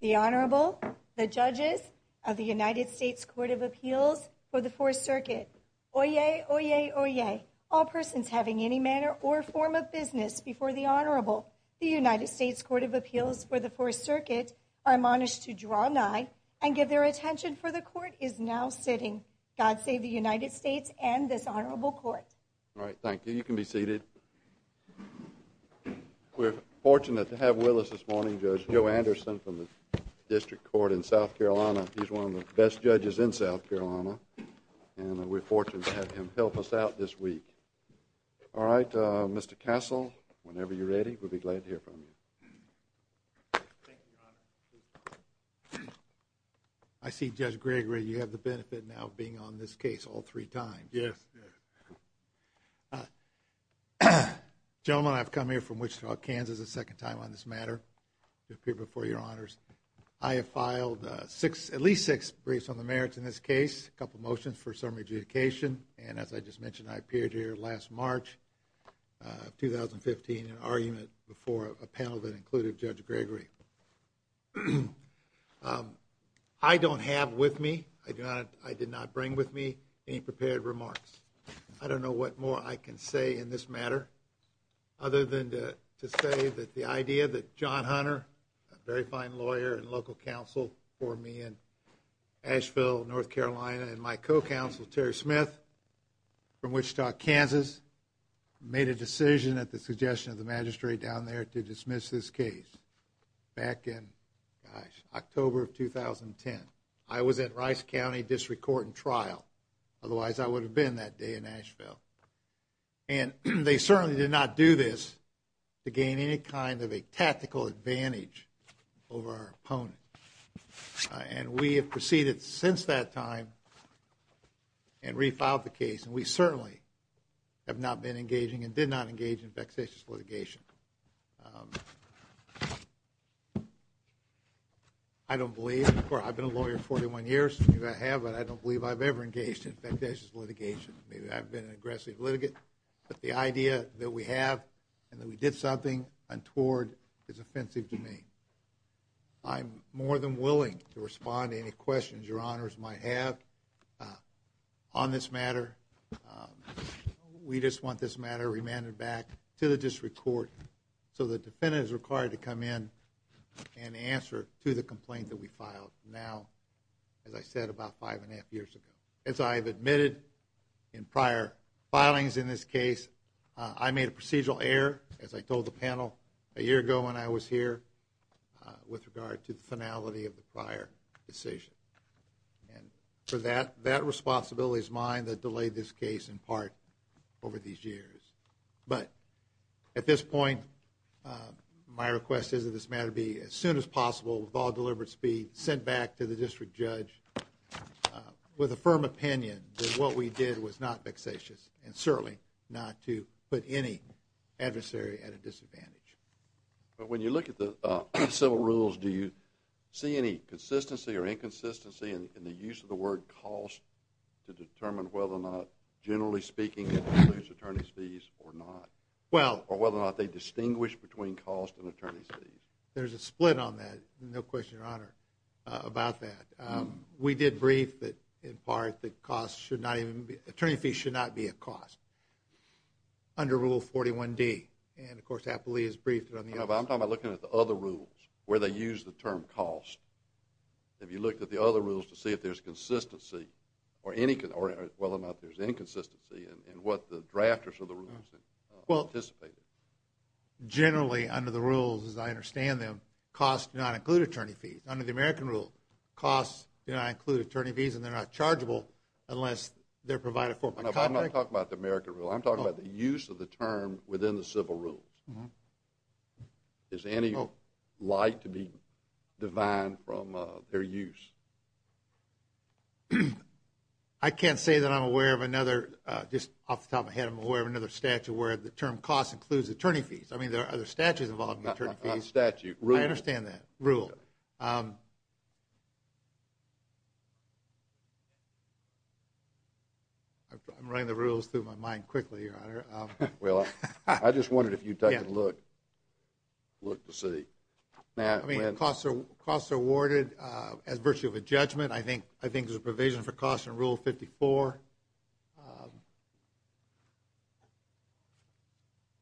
The Honorable, the Judges of the United States Court of Appeals for the Fourth Circuit. Oyez! Oyez! Oyez! All persons having any manner or form of business before the Honorable, the United States Court of Appeals for the Fourth Circuit, are admonished to draw nigh and give their attention for the Court is now sitting. God save the United States and this Honorable Court. All right, thank you. You can be seated. We're fortunate to have with us this morning Judge Joe Anderson from the District Court in South Carolina. He's one of the best judges in South Carolina and we're fortunate to have him help us out this week. All right, Mr. Castle, whenever you're ready, we'll be glad to hear from you. Thank you, Your Honor. I see Judge Gregory, you have the benefit now of being on this case all three times. Yes. Gentlemen, I've come here from Wichita, Kansas, a second time on this matter to appear before Your Honors. I have filed six, at least six briefs on the merits in this case, a couple of motions for summary adjudication. And as I just mentioned, I appeared here last March 2015 in argument before a panel that included Judge Gregory. I don't have with me, I did not bring with me any prepared remarks. I don't know what more I can say in this matter other than to say that the idea that John Hunter, a very fine lawyer and local counsel for me in Asheville, North Carolina, and my co-counsel Terry Smith from Wichita, Kansas, made a decision at the suggestion of the magistrate down there to dismiss this case back in, gosh, October of 2010. I was at Rice County District Court in trial, otherwise I would have been that day in Asheville. And they certainly did not do this to gain any kind of a tactical advantage over our opponent. And we have proceeded since that time and refiled the case. And we certainly have not been engaging and did not engage in vexatious litigation. I don't believe, or I've been a lawyer 41 years, maybe I have, but I don't believe I've ever engaged in vexatious litigation. Maybe I've been an aggressive litigant. But the idea that we have and that we did something untoward is offensive to me. I'm more than willing to respond to any questions your honors might have on this matter. We just want this matter remanded back to the district court so the defendant is required to come in and answer to the complaint that we filed now, as I said, about five and a half years ago. As I have admitted in prior filings in this case, I made a procedural error, as I told the panel a year ago when I was here, with regard to the finality of the prior decision. And for that, that responsibility is mine that delayed this case in part over these years. But at this point, my request is that this matter be as soon as possible, with all deliberate speed, sent back to the district judge with a firm opinion that what we did was not vexatious and certainly not to put any adversary at a disadvantage. But when you look at the civil rules, do you see any consistency or inconsistency in the use of the word cost to determine whether or not, generally speaking, it includes attorney's fees or not? Or whether or not they distinguish between cost and attorney's fees? There's a split on that, no question, your honor, about that. We did brief that, in part, attorney's fees should not be a cost under Rule 41D. And, of course, Appleby has briefed it on the other side. I'm talking about looking at the other rules where they use the term cost. Have you looked at the other rules to see if there's consistency or, well, if there's inconsistency in what the drafters of the rules have anticipated? Generally, under the rules, as I understand them, costs do not include attorney's fees. Under the American rule, costs do not include attorney's fees, and they're not chargeable unless they're provided for by contract. I'm not talking about the American rule. I'm talking about the use of the term within the civil rules. Is there any light to be divined from their use? I can't say that I'm aware of another, just off the top of my head, I'm aware of another statute where the term cost includes attorney's fees. I mean, there are other statutes involving attorney's fees. I understand that rule. I'm running the rules through my mind quickly, Your Honor. Well, I just wondered if you'd take a look to see. I mean, costs are awarded as virtue of a judgment. I think there's a provision for cost in Rule 54.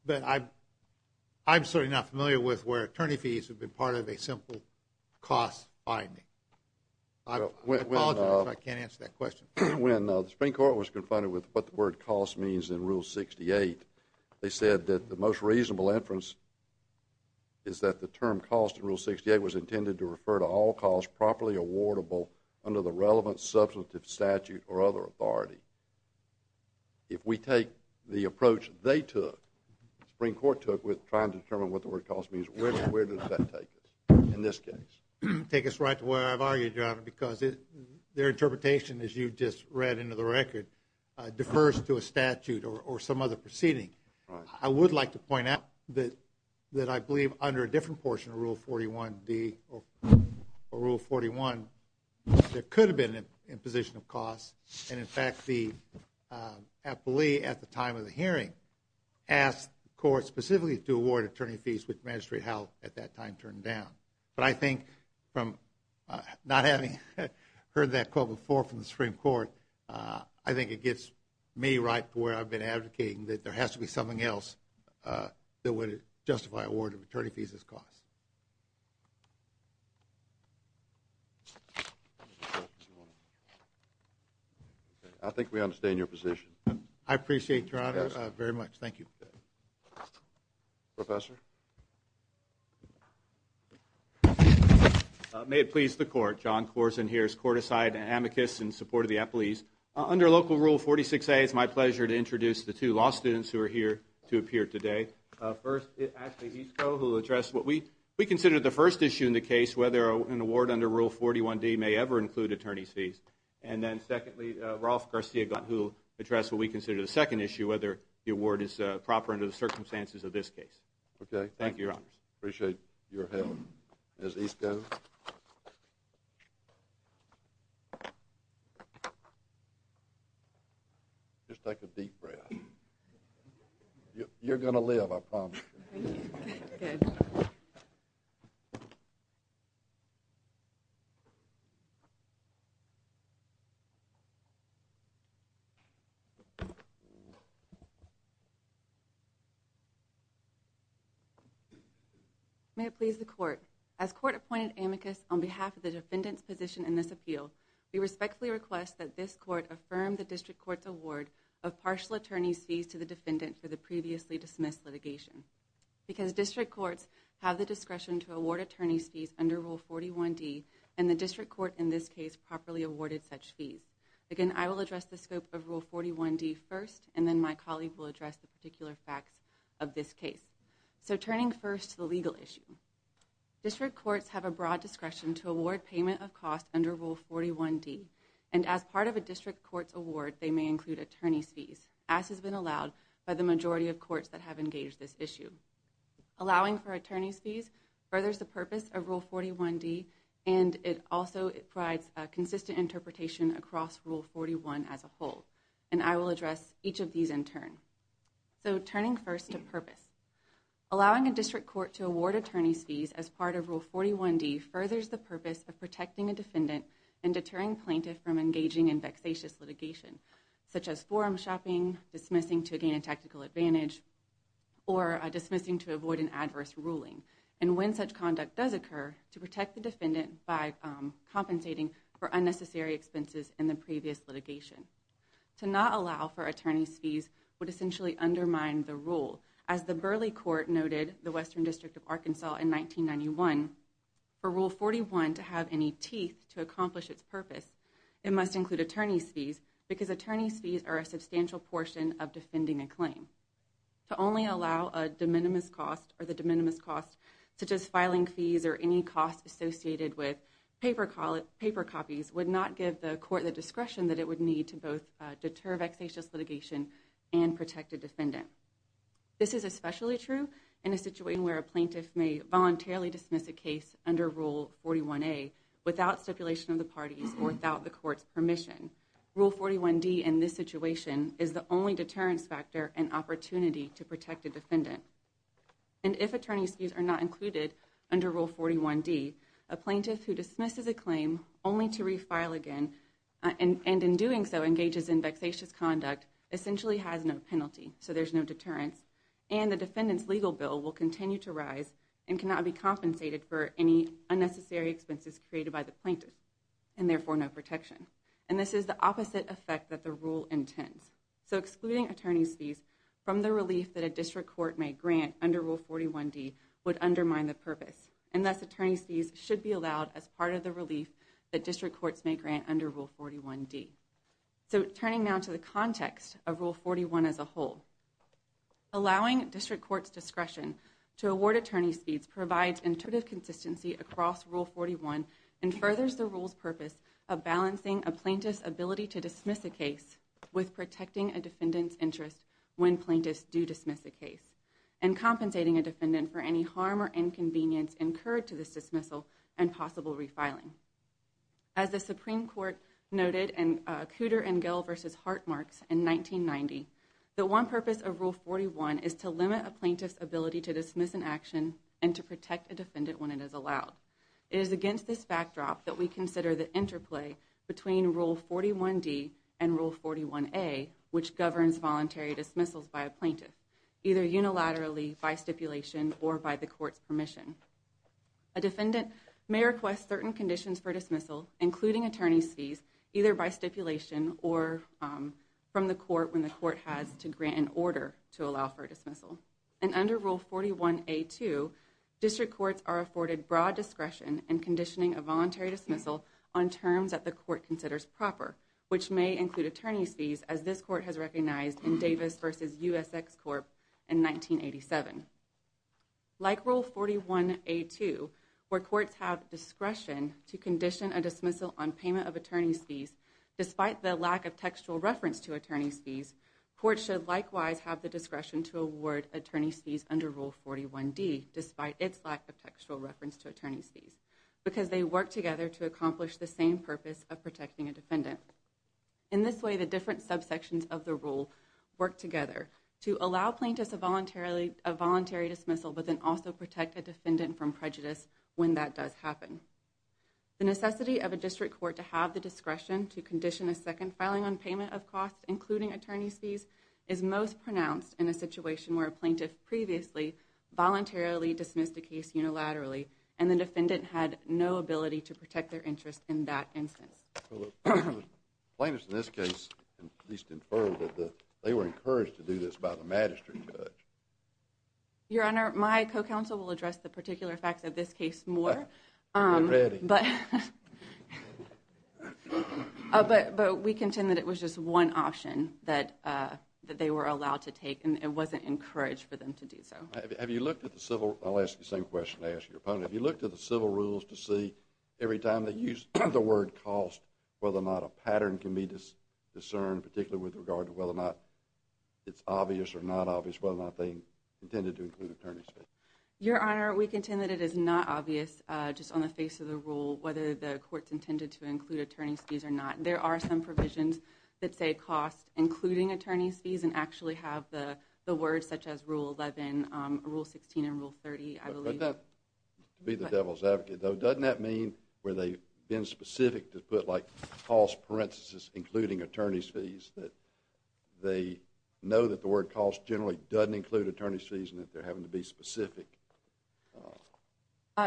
But I'm certainly not familiar with where attorney's fees would be part of a simple cost finding. I apologize if I can't answer that question. When the Supreme Court was confronted with what the word cost means in Rule 68, they said that the most reasonable inference is that the term cost in Rule 68 was intended to refer to all costs that are properly awardable under the relevant substantive statute or other authority. If we take the approach they took, the Supreme Court took, with trying to determine what the word cost means, where does that take us in this case? Take us right to where I've argued, Your Honor, because their interpretation, as you just read into the record, defers to a statute or some other proceeding. I would like to point out that I believe under a different portion of Rule 41D or Rule 41, there could have been an imposition of cost. And, in fact, the appellee at the time of the hearing asked the court specifically to award attorney fees with magistrate help at that time turned down. But I think from not having heard that quote before from the Supreme Court, I think it gets me right to where I've been advocating that there has to be something else that would justify award of attorney fees as cost. I think we understand your position. I appreciate it, Your Honor, very much. Thank you. Professor? May it please the Court. John Corzine here is court-assigned an amicus in support of the appellees. Under Local Rule 46A, it's my pleasure to introduce the two law students who are here to appear today. First, Ashley Visco, who will address what we consider the first issue in the case, whether an award under Rule 41D may ever include attorney fees. And then, secondly, Rolf Garcia-Glant, who will address what we consider the second issue, whether the award is proper under the circumstances of this case. Okay. Thank you, Your Honors. Appreciate your help. Ms. Visco? Thank you. Just take a deep breath. You're going to live, I promise. Thank you. Good. May it please the Court. As Court appointed amicus on behalf of the defendant's position in this appeal, we respectfully request that this Court affirm the District Court's award of partial attorney's fees to the defendant for the previously dismissed litigation. Because District Courts have the discretion to award attorney's fees under Rule 41D, and the District Court in this case properly awarded such fees. Again, I will address the scope of Rule 41D first, and then my colleague will address the particular facts of this case. So, turning first to the legal issue. District Courts have a broad discretion to award payment of costs under Rule 41D, and as part of a District Court's award, they may include attorney's fees, as has been allowed by the majority of courts that have engaged this issue. Allowing for attorney's fees furthers the purpose of Rule 41D, and it also provides a consistent interpretation across Rule 41 as a whole, and I will address each of these in turn. So, turning first to purpose. Allowing a District Court to award attorney's fees as part of Rule 41D furthers the purpose of protecting a defendant and deterring plaintiff from engaging in vexatious litigation, such as forum shopping, dismissing to gain a tactical advantage, or dismissing to avoid an adverse ruling, and when such conduct does occur, to protect the defendant by compensating for unnecessary expenses in the previous litigation. To not allow for attorney's fees would essentially undermine the rule, as the Burley Court noted, the Western District of Arkansas in 1991, for Rule 41 to have any teeth to accomplish its purpose, it must include attorney's fees, because attorney's fees are a substantial portion of defending a claim. To only allow a de minimis cost, or the de minimis cost, such as filing fees or any costs associated with paper copies, would not give the court the discretion that it would need to both deter vexatious litigation and protect a defendant. This is especially true in a situation where a plaintiff may voluntarily dismiss a case under Rule 41A without stipulation of the parties or without the court's permission. Rule 41D in this situation is the only deterrence factor and opportunity to protect a defendant. And if attorney's fees are not included under Rule 41D, a plaintiff who dismisses a claim only to refile again, and in doing so engages in vexatious conduct, essentially has no penalty, so there's no deterrence, and the defendant's legal bill will continue to rise and cannot be compensated for any unnecessary expenses created by the plaintiff, and therefore no protection. And this is the opposite effect that the rule intends. So excluding attorney's fees from the relief that a district court may grant under Rule 41D would undermine the purpose. And thus attorney's fees should be allowed as part of the relief that district courts may grant under Rule 41D. So turning now to the context of Rule 41 as a whole, allowing district court's discretion to award attorney's fees provides intuitive consistency across Rule 41 and furthers the rule's purpose of balancing a plaintiff's ability to dismiss a case with protecting a defendant's interest when plaintiffs do dismiss a case, and compensating a defendant for any harm or inconvenience incurred to this dismissal and possible refiling. As the Supreme Court noted in Cooter and Gill v. Hartmark in 1990, the one purpose of Rule 41 is to limit a plaintiff's ability to dismiss an action and to protect a defendant when it is allowed. It is against this backdrop that we consider the interplay between Rule 41D and Rule 41A, which governs voluntary dismissals by a plaintiff, either unilaterally, by stipulation, or by the court's permission. A defendant may request certain conditions for dismissal, including attorney's fees, either by stipulation or from the court when the court has to grant an order to allow for a dismissal. And under Rule 41A-2, district courts are afforded broad discretion in conditioning a voluntary dismissal on terms that the court considers proper, which may include attorney's fees, as this court has recognized in Davis v. USX Corp. in 1987. Like Rule 41A-2, where courts have discretion to condition a dismissal on payment of attorney's fees, despite the lack of textual reference to attorney's fees, courts should likewise have the discretion to award attorney's fees under Rule 41D, despite its lack of textual reference to attorney's fees, because they work together to accomplish the same purpose of protecting a defendant. In this way, the different subsections of the Rule work together to allow plaintiffs a voluntary dismissal, but then also protect a defendant from prejudice when that does happen. The necessity of a district court to have the discretion to condition a second filing on payment of costs, including attorney's fees, is most pronounced in a situation where a plaintiff previously voluntarily dismissed a case unilaterally, and the defendant had no ability to protect their interest in that instance. The plaintiffs in this case at least inferred that they were encouraged to do this by the magistrate judge. Your Honor, my co-counsel will address the particular facts of this case more, but we contend that it was just one option that they were allowed to take, and it wasn't encouraged for them to do so. I'll ask you the same question I asked your opponent. Have you looked at the civil rules to see, every time they use the word cost, whether or not a pattern can be discerned, particularly with regard to whether or not it's obvious or not obvious, whether or not they intended to include attorney's fees? Your Honor, we contend that it is not obvious, just on the face of the rule, whether the courts intended to include attorney's fees or not. There are some provisions that say cost, including attorney's fees, and actually have the words such as Rule 11, Rule 16, and Rule 30, I believe. But that, to be the devil's advocate, though, doesn't that mean where they've been specific to put, like, cost parentheses including attorney's fees, that they know that the word cost generally doesn't include attorney's fees and that they're having to be specific?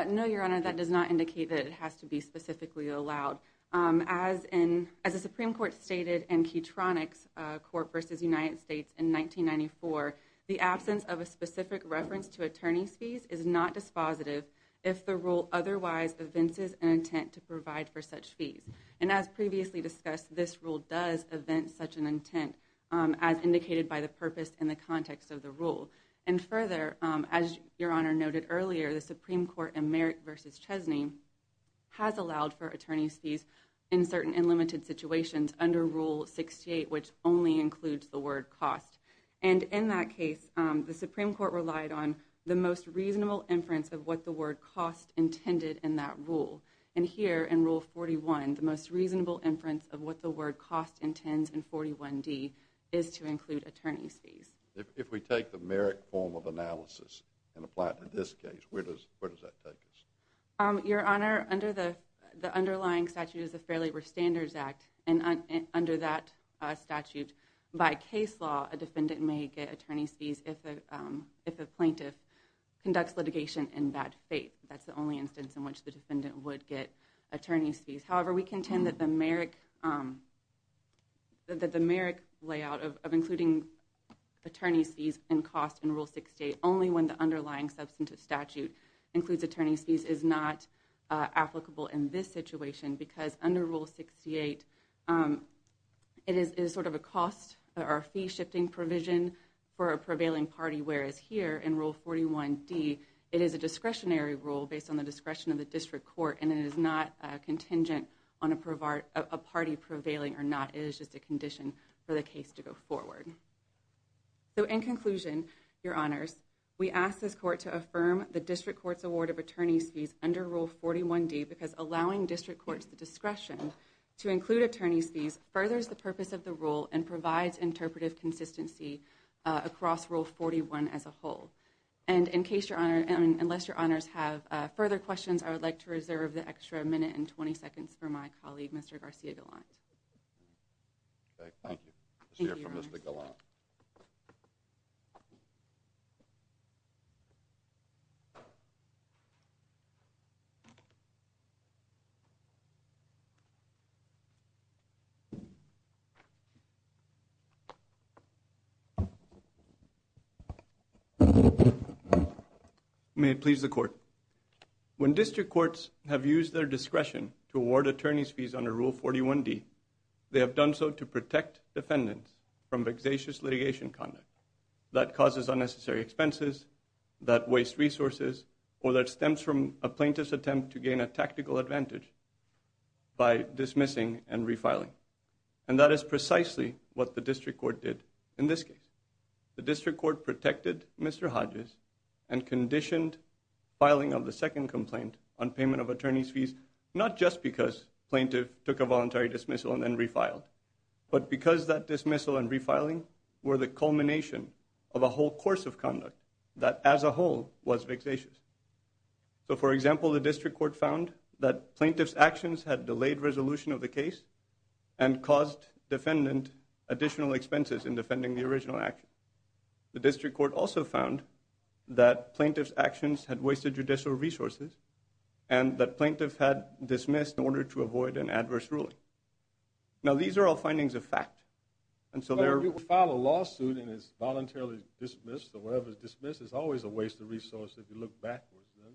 No, Your Honor, that does not indicate that it has to be specifically allowed. As the Supreme Court stated in Keytronics Court v. United States in 1994, the absence of a specific reference to attorney's fees is not dispositive if the rule otherwise evinces an intent to provide for such fees. And as previously discussed, this rule does evince such an intent, as indicated by the purpose and the context of the rule. And further, as Your Honor noted earlier, the Supreme Court in Merrick v. Chesney has allowed for attorney's fees in certain and limited situations under Rule 68, which only includes the word cost. And in that case, the Supreme Court relied on the most reasonable inference of what the word cost intended in that rule. And here, in Rule 41, the most reasonable inference of what the word cost intends in 41D is to include attorney's fees. If we take the Merrick form of analysis and apply it to this case, where does that take us? Your Honor, under the underlying statute is the Fair Labor Standards Act, and under that statute, by case law, a defendant may get attorney's fees if a plaintiff conducts litigation in that fate. That's the only instance in which the defendant would get attorney's fees. However, we contend that the Merrick layout of including attorney's fees and cost in Rule 68 only when the underlying substantive statute includes attorney's fees is not applicable in this situation because under Rule 68, it is sort of a cost or a fee-shifting provision for a prevailing party, whereas here in Rule 41D, it is a discretionary rule based on the discretion of the district court, and it is not contingent on a party prevailing or not. It is just a condition for the case to go forward. So in conclusion, Your Honors, we ask this court to affirm the district court's award of attorney's fees under Rule 41D because allowing district courts the discretion to include attorney's fees furthers the purpose of the rule and provides interpretive consistency across Rule 41 as a whole. And in case Your Honor, unless Your Honors have further questions, I would like to reserve the extra minute and 20 seconds for my colleague, Mr. Garcia-Galant. Thank you. Let's hear from Mr. Galant. When district courts have used their discretion to award attorney's fees under Rule 41D, they have done so to protect defendants from vexatious litigation conduct that causes unnecessary expenses, that wastes resources, or that stems from a plaintiff's attempt to gain a tactical advantage by dismissing and refiling. And that is precisely what the district court did in this case. The district court protected Mr. Hodges and conditioned filing of the second complaint on payment of attorney's fees, not just because plaintiff took a voluntary dismissal and then refiled, but because that dismissal and refiling were the culmination of a whole course of conduct that as a whole was vexatious. So for example, the district court found that plaintiff's actions had delayed resolution of the case and caused defendant additional expenses in defending the original action. The district court also found that plaintiff's actions had wasted judicial resources and that plaintiff had dismissed in order to avoid an adverse ruling. Now, these are all findings of fact. And so there are... But if you file a lawsuit and it's voluntarily dismissed or whatever is dismissed, it's always a waste of resources if you look backwards, right?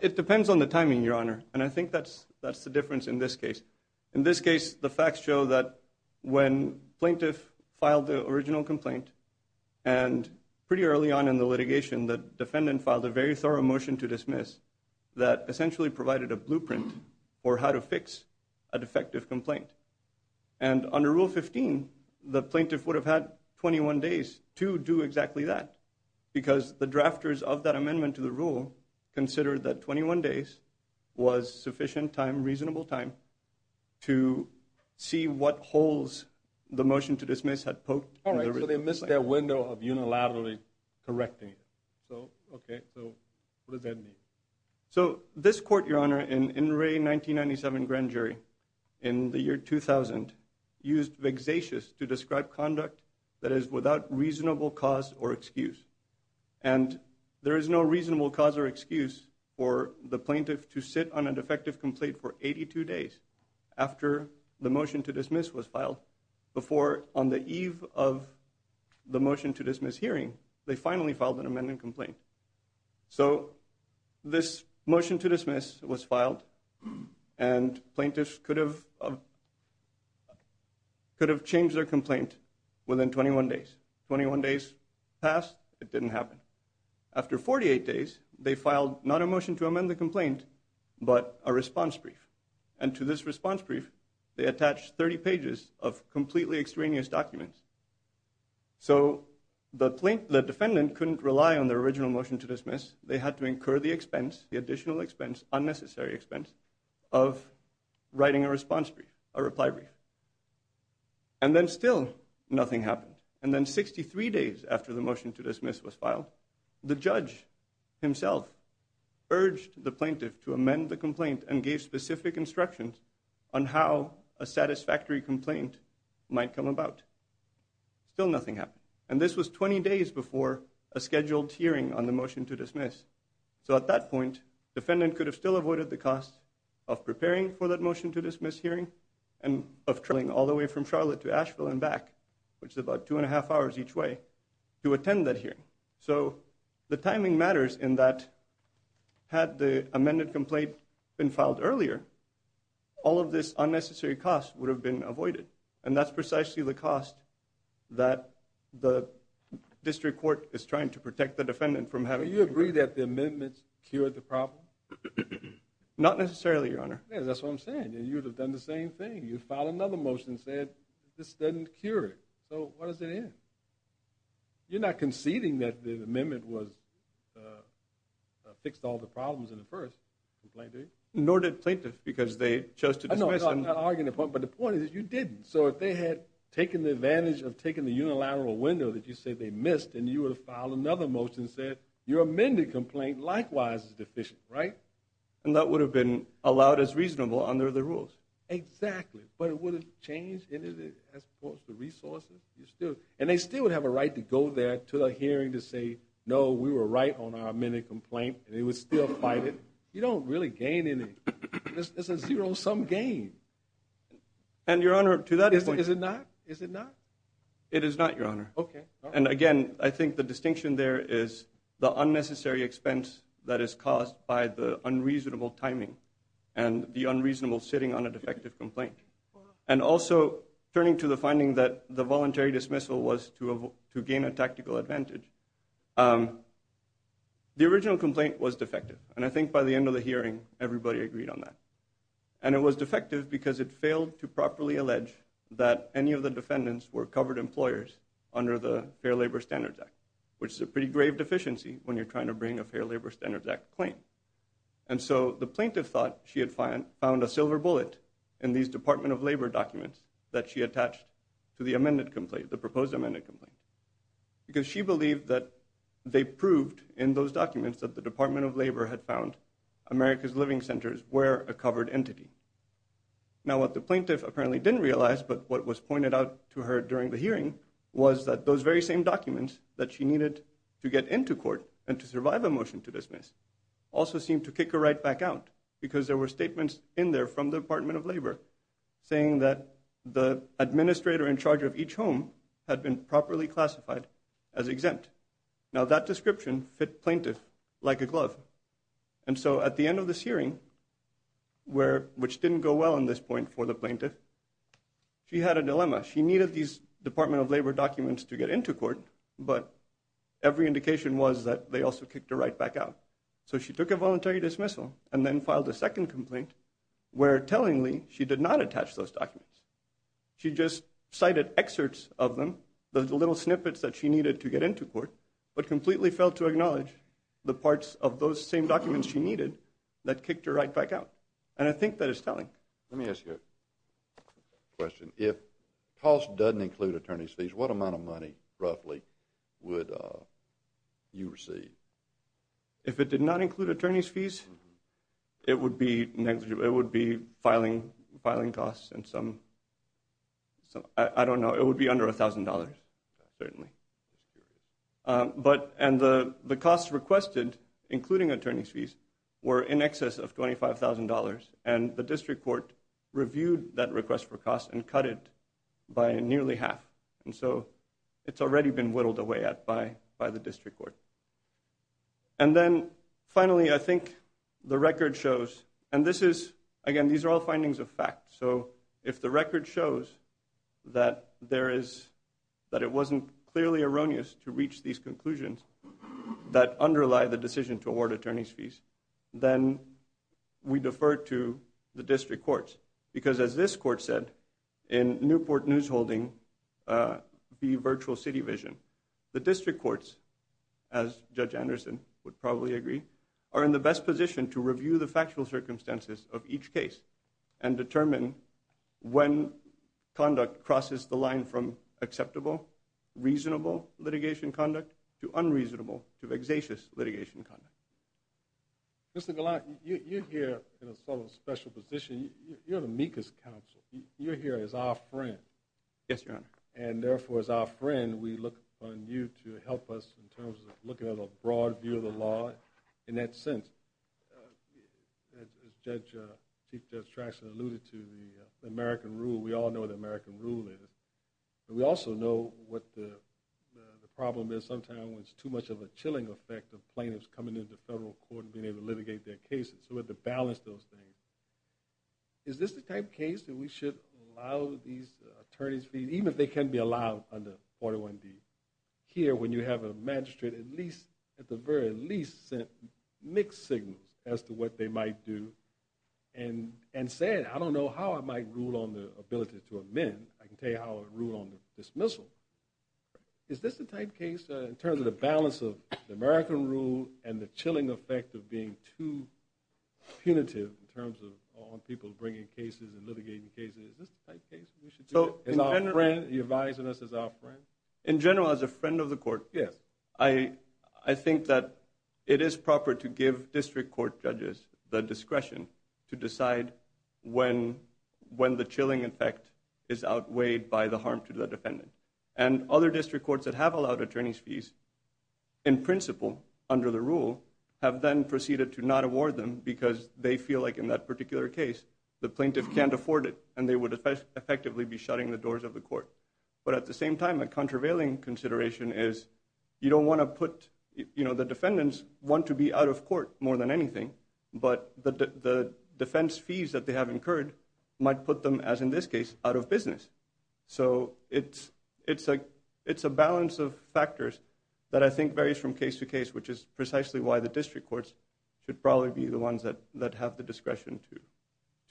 It depends on the timing, Your Honor. And I think that's the difference in this case. In this case, the facts show that when plaintiff filed the original complaint and pretty early on in the litigation, the defendant filed a very thorough motion to dismiss that essentially provided a blueprint for how to fix a defective complaint. And under Rule 15, the plaintiff would have had 21 days to do exactly that because the drafters of that amendment to the rule considered that 21 days was sufficient time, reasonable time to see what holes the motion to dismiss had poked. All right, so they missed their window of unilaterally correcting it. So, okay, so what does that mean? So this court, Your Honor, in Inouye 1997 grand jury, in the year 2000, used vexatious to describe conduct that is without reasonable cause or excuse. And there is no reasonable cause or excuse for the plaintiff to sit on a defective complaint for 82 days after the motion to dismiss was filed before on the eve of the motion to dismiss hearing, they finally filed an amendment complaint. So this motion to dismiss was filed and plaintiffs could have changed their complaint within 21 days. 21 days passed, it didn't happen. After 48 days, they filed not a motion to amend the complaint, but a response brief. And to this response brief, they attached 30 pages of completely extraneous documents. So the defendant couldn't rely on their original motion to dismiss, they had to incur the expense, the additional expense, unnecessary expense, of writing a response brief, a reply brief. And then still nothing happened. And then 63 days after the motion to dismiss was filed, and gave specific instructions on how a satisfactory complaint might come about. Still nothing happened. And this was 20 days before a scheduled hearing on the motion to dismiss. So at that point, defendant could have still avoided the cost of preparing for that motion to dismiss hearing, and of traveling all the way from Charlotte to Asheville and back, which is about two and a half hours each way, to attend that hearing. So the timing matters in that, had the amended complaint been filed earlier, all of this unnecessary cost would have been avoided. And that's precisely the cost that the district court is trying to protect the defendant from having to pay. Do you agree that the amendments cured the problem? Not necessarily, Your Honor. Yeah, that's what I'm saying. You would have done the same thing. You filed another motion and said, this doesn't cure it. So what does it end? You're not conceding that the amendment fixed all the problems in the first complaint, are you? Nor did plaintiffs, because they chose to dismiss them. No, I'm not arguing the point. But the point is, you didn't. So if they had taken the advantage of taking the unilateral window that you said they missed, and you would have filed another motion and said, your amended complaint likewise is deficient, right? And that would have been allowed as reasonable under the rules. Exactly. But it wouldn't change any of the resources? And they still would have a right to go there to the hearing to say, no, we were right on our amended complaint, and they would still fight it. You don't really gain anything. It's a zero-sum game. And, Your Honor, to that point, is it not? It is not, Your Honor. Okay. And, again, I think the distinction there is the unnecessary expense that is caused by the unreasonable timing and the unreasonable sitting on a defective complaint. And also, turning to the finding that the voluntary dismissal was to gain a tactical advantage, the original complaint was defective. And I think by the end of the hearing, everybody agreed on that. And it was defective because it failed to properly allege that any of the defendants were covered employers under the Fair Labor Standards Act, which is a pretty grave deficiency when you're trying to bring a Fair Labor Standards Act claim. And so the plaintiff thought she had found a silver bullet in these Department of Labor documents that she attached to the amended complaint, the proposed amended complaint, because she believed that they proved in those documents that the Department of Labor had found America's living centers were a covered entity. Now, what the plaintiff apparently didn't realize, but what was pointed out to her during the hearing, was that those very same documents that she needed to get into court and to survive a motion to dismiss also seemed to kick her right back out because there were statements in there from the Department of Labor saying that the administrator in charge of each home had been properly classified as exempt. Now, that description fit plaintiff like a glove. And so at the end of this hearing, which didn't go well in this point for the plaintiff, she had a dilemma. She needed these Department of Labor documents to get into court, but every indication was that they also kicked her right back out. So she took a voluntary dismissal and then filed a second complaint where, tellingly, she did not attach those documents. She just cited excerpts of them, the little snippets that she needed to get into court, but completely failed to acknowledge the parts of those same documents she needed that kicked her right back out. And I think that is telling. Let me ask you a question. If cost doesn't include attorney's fees, what amount of money, roughly, would you receive? If it did not include attorney's fees, it would be filing costs and some, I don't know, it would be under $1,000, certainly. And the costs requested, including attorney's fees, were in excess of $25,000, and the district court reviewed that request for costs and cut it by nearly half. And so it's already been whittled away at by the district court. And then, finally, I think the record shows, and this is, again, these are all findings of fact. So if the record shows that it wasn't clearly erroneous to reach these conclusions that underlie the decision to award attorney's fees, then we defer to the district courts. Because as this court said in Newport Newsholding v. Virtual City Vision, the district courts, as Judge Anderson would probably agree, are in the best position to review the factual circumstances of each case and determine when conduct crosses the line from acceptable, reasonable litigation conduct to unreasonable to vexatious litigation conduct. Mr. Galant, you're here in a sort of special position. You're the MECAS counsel. You're here as our friend. Yes, Your Honor. And, therefore, as our friend, we look upon you to help us in terms of looking at a broad view of the law. In that sense, as Chief Judge Traxler alluded to, the American rule, we all know what the American rule is. And we also know what the problem is sometimes when it's too much of a chilling effect of plaintiffs coming into federal court and being able to litigate their cases. So we have to balance those things. Is this the type of case that we should allow these attorney's fees, even if they can be allowed under 401D, hear when you have a magistrate at the very least send mixed signals as to what they might do and say, I don't know how I might rule on the ability to amend. I can tell you how I would rule on the dismissal. Is this the type of case in terms of the balance of the American rule and the chilling effect of being too punitive in terms of people bringing cases and litigating cases, is this the type of case we should do that? In general, as a friend of the court, I think that it is proper to give district court judges the discretion to decide when the chilling effect is outweighed by the harm to the defendant. And other district courts that have allowed attorney's fees, in principle, under the rule, have then proceeded to not award them because they feel like in that particular case, the plaintiff can't afford it and they would effectively be shutting the doors of the court. But at the same time, a contravailing consideration is you don't want to put, you know, the defendants want to be out of court more than anything. But the defense fees that they have incurred might put them, as in this case, out of business. So it's a balance of factors that I think varies from case to case, which is precisely why the district courts should probably be the ones that have the discretion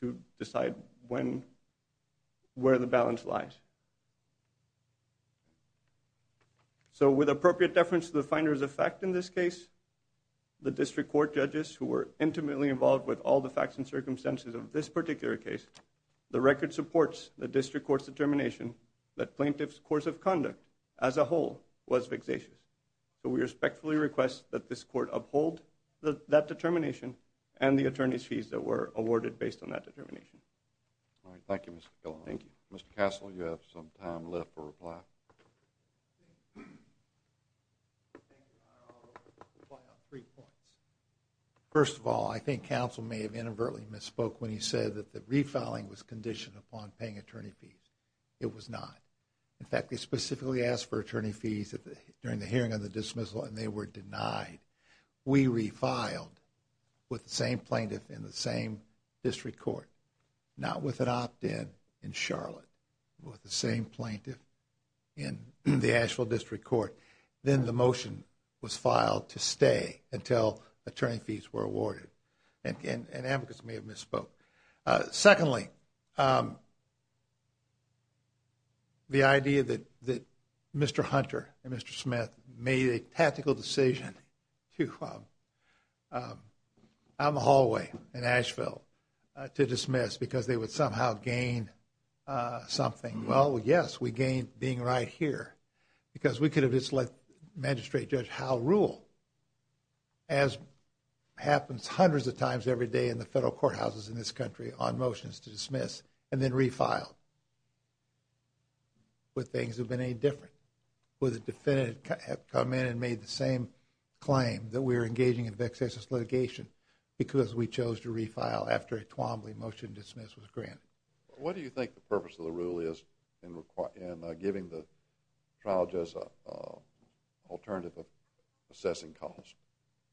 to decide where the balance lies. So with appropriate deference to the finder's effect in this case, the district court judges who were intimately involved with all the facts and circumstances of this particular case, the record supports the district court's determination that plaintiff's course of conduct as a whole was vexatious. So we respectfully request that this court uphold that determination and the attorney's fees that were awarded based on that determination. All right. Thank you, Mr. Killen. Thank you. Mr. Castle, you have some time left for reply. I'll reply on three points. First of all, I think counsel may have inadvertently misspoke when he said that the refiling was conditioned upon paying attorney fees. It was not. In fact, they specifically asked for attorney fees during the hearing on the dismissal, and they were denied. We refiled with the same plaintiff in the same district court, not with an opt-in in Charlotte, with the same plaintiff in the Asheville District Court. Then the motion was filed to stay until attorney fees were awarded. And advocates may have misspoke. Secondly, the idea that Mr. Hunter and Mr. Smith made a tactical decision out in the hallway in Asheville to dismiss because they would somehow gain something. Well, yes, we gained being right here because we could have just let Magistrate Judge Howell rule, as happens hundreds of times every day in the federal courthouses in this country on motions to dismiss, and then refiled. Would things have been any different? Would the defendant have come in and made the same claim that we're engaging in vexatious litigation because we chose to refile after a Twombly motion to dismiss was granted? What do you think the purpose of the rule is in giving the trial judge an alternative of assessing costs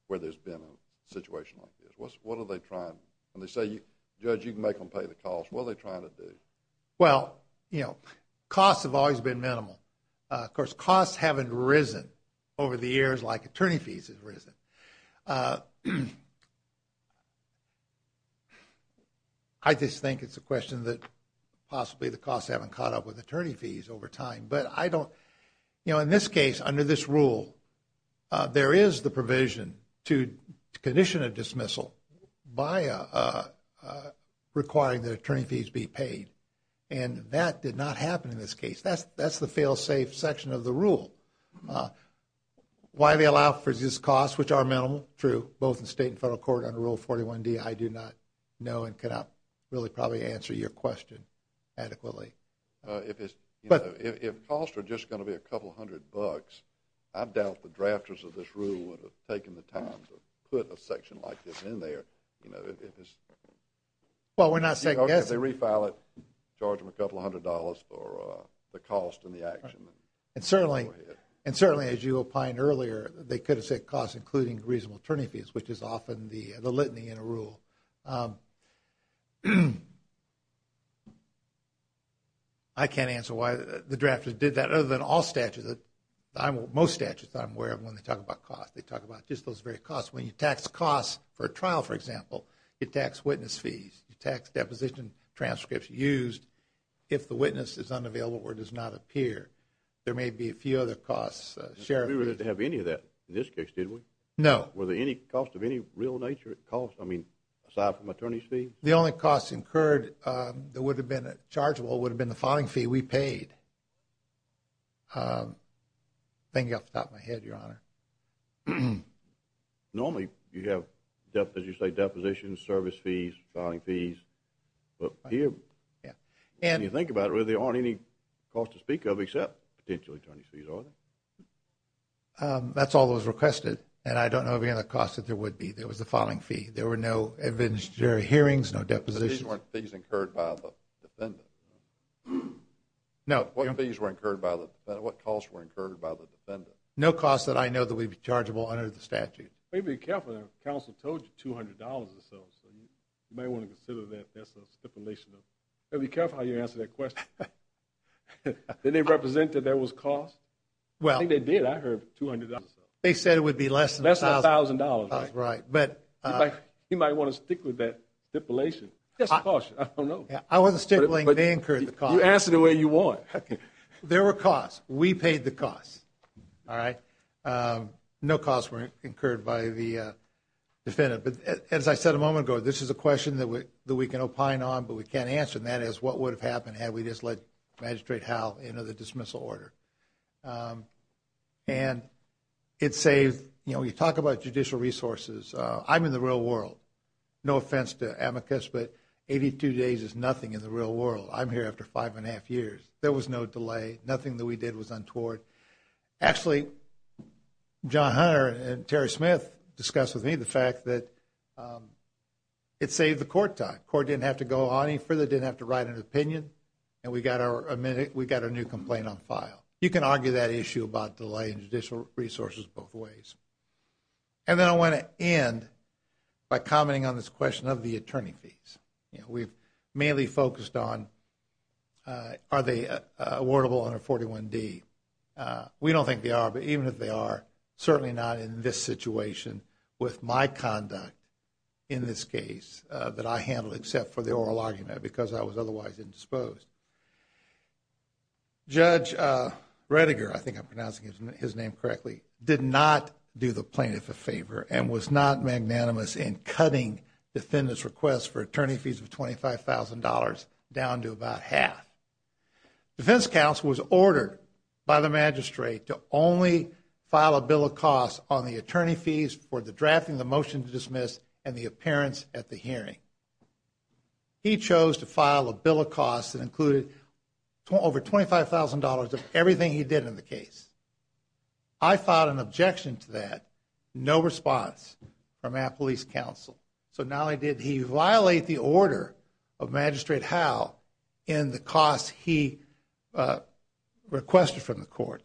where there's been a situation like this? What are they trying? When they say, Judge, you can make them pay the cost, what are they trying to do? Well, you know, costs have always been minimal. Of course, costs haven't risen over the years like attorney fees have risen. I just think it's a question that possibly the costs haven't caught up with attorney fees over time. But I don't, you know, in this case, under this rule, there is the provision to condition a dismissal by requiring that attorney fees be paid. And that did not happen in this case. That's the fail-safe section of the rule. Why do they allow for these costs, which are minimal? True, both in state and federal court under Rule 41D, I do not know and cannot really probably answer your question adequately. If costs are just going to be a couple hundred bucks, I doubt the drafters of this rule would have taken the time to put a section like this in there. Well, we're not second-guessing. If they refile it, charge them a couple hundred dollars for the cost and the action. And certainly, as you opined earlier, they could have said costs including reasonable attorney fees, which is often the litany in a rule. I can't answer why the drafters did that other than all statutes. Most statutes I'm aware of when they talk about costs. They talk about just those very costs. When you tax costs for a trial, for example, you tax witness fees, you tax deposition transcripts used if the witness is unavailable or does not appear. There may be a few other costs. We didn't have any of that in this case, did we? No. Were there any costs of any real nature? I mean, aside from attorney fees? The only costs incurred that would have been chargeable would have been the filing fee we paid. I'm thinking off the top of my head, Your Honor. Normally, you have, as you say, depositions, service fees, filing fees. But here, when you think about it, there aren't any costs to speak of except potential attorney fees, are there? That's all that was requested. And I don't know of any other costs that there would be. There was the filing fee. There were no evidentiary hearings, no depositions. These weren't fees incurred by the defendant? No. What costs were incurred by the defendant? No costs that I know that would be chargeable under the statute. You may be careful there. Counsel told you $200 or so. You may want to consider that as a stipulation. You may be careful how you answer that question. Did they represent that there was cost? I think they did. I heard $200 or so. They said it would be less than $1,000. Less than $1,000. Right. You might want to stick with that stipulation. Just a caution. I don't know. I wasn't stippling. They incurred the cost. You answer the way you want. There were costs. We paid the costs. All right. No costs were incurred by the defendant. But as I said a moment ago, this is a question that we can opine on, but we can't answer. And that is, what would have happened had we just let Magistrate Howell enter the dismissal order? And it saves, you know, you talk about judicial resources. I'm in the real world. No offense to amicus, but 82 days is nothing in the real world. I'm here after five and a half years. There was no delay. Nothing that we did was untoward. Actually, John Hunter and Terry Smith discussed with me the fact that it saved the court time. Court didn't have to go any further, didn't have to write an opinion, and we got our new complaint on file. You can argue that issue about delay and judicial resources both ways. And then I want to end by commenting on this question of the attorney fees. You know, we've mainly focused on are they awardable under 41D. We don't think they are, but even if they are, certainly not in this situation with my conduct in this case that I handled except for the oral argument because I was otherwise indisposed. Judge Rettiger, I think I'm pronouncing his name correctly, did not do the plaintiff a favor and was not magnanimous in cutting defendant's request for attorney fees of $25,000 down to about half. Defense counsel was ordered by the magistrate to only file a bill of costs on the attorney fees for the drafting of the motion to dismiss and the appearance at the hearing. He chose to file a bill of costs that included over $25,000 of everything he did in the case. I filed an objection to that, no response from our police counsel. So not only did he violate the order of Magistrate Howe in the costs he requested from the court,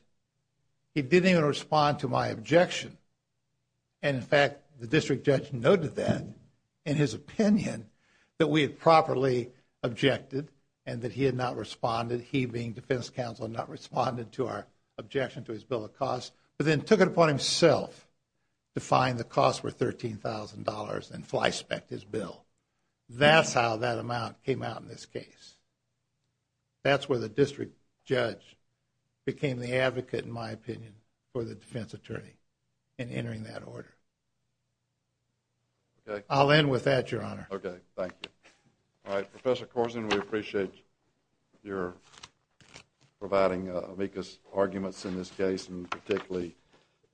he didn't even respond to my objection. And in fact, the district judge noted that in his opinion that we had properly objected and that he had not responded, he being defense counsel, not responded to our objection to his bill of costs, but then took it upon himself to fine the cost for $13,000 and flyspeck his bill. That's how that amount came out in this case. That's where the district judge became the advocate, in my opinion, for the defense attorney in entering that order. I'll end with that, Your Honor. Okay, thank you. All right, Professor Corzine, we appreciate your providing amicus arguments in this case and particularly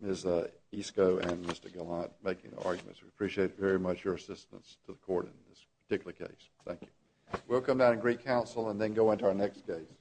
Ms. Isko and Mr. Gallant making the arguments. We appreciate very much your assistance to the court in this particular case. Thank you. We'll come down to Greek Council and then go into our next case.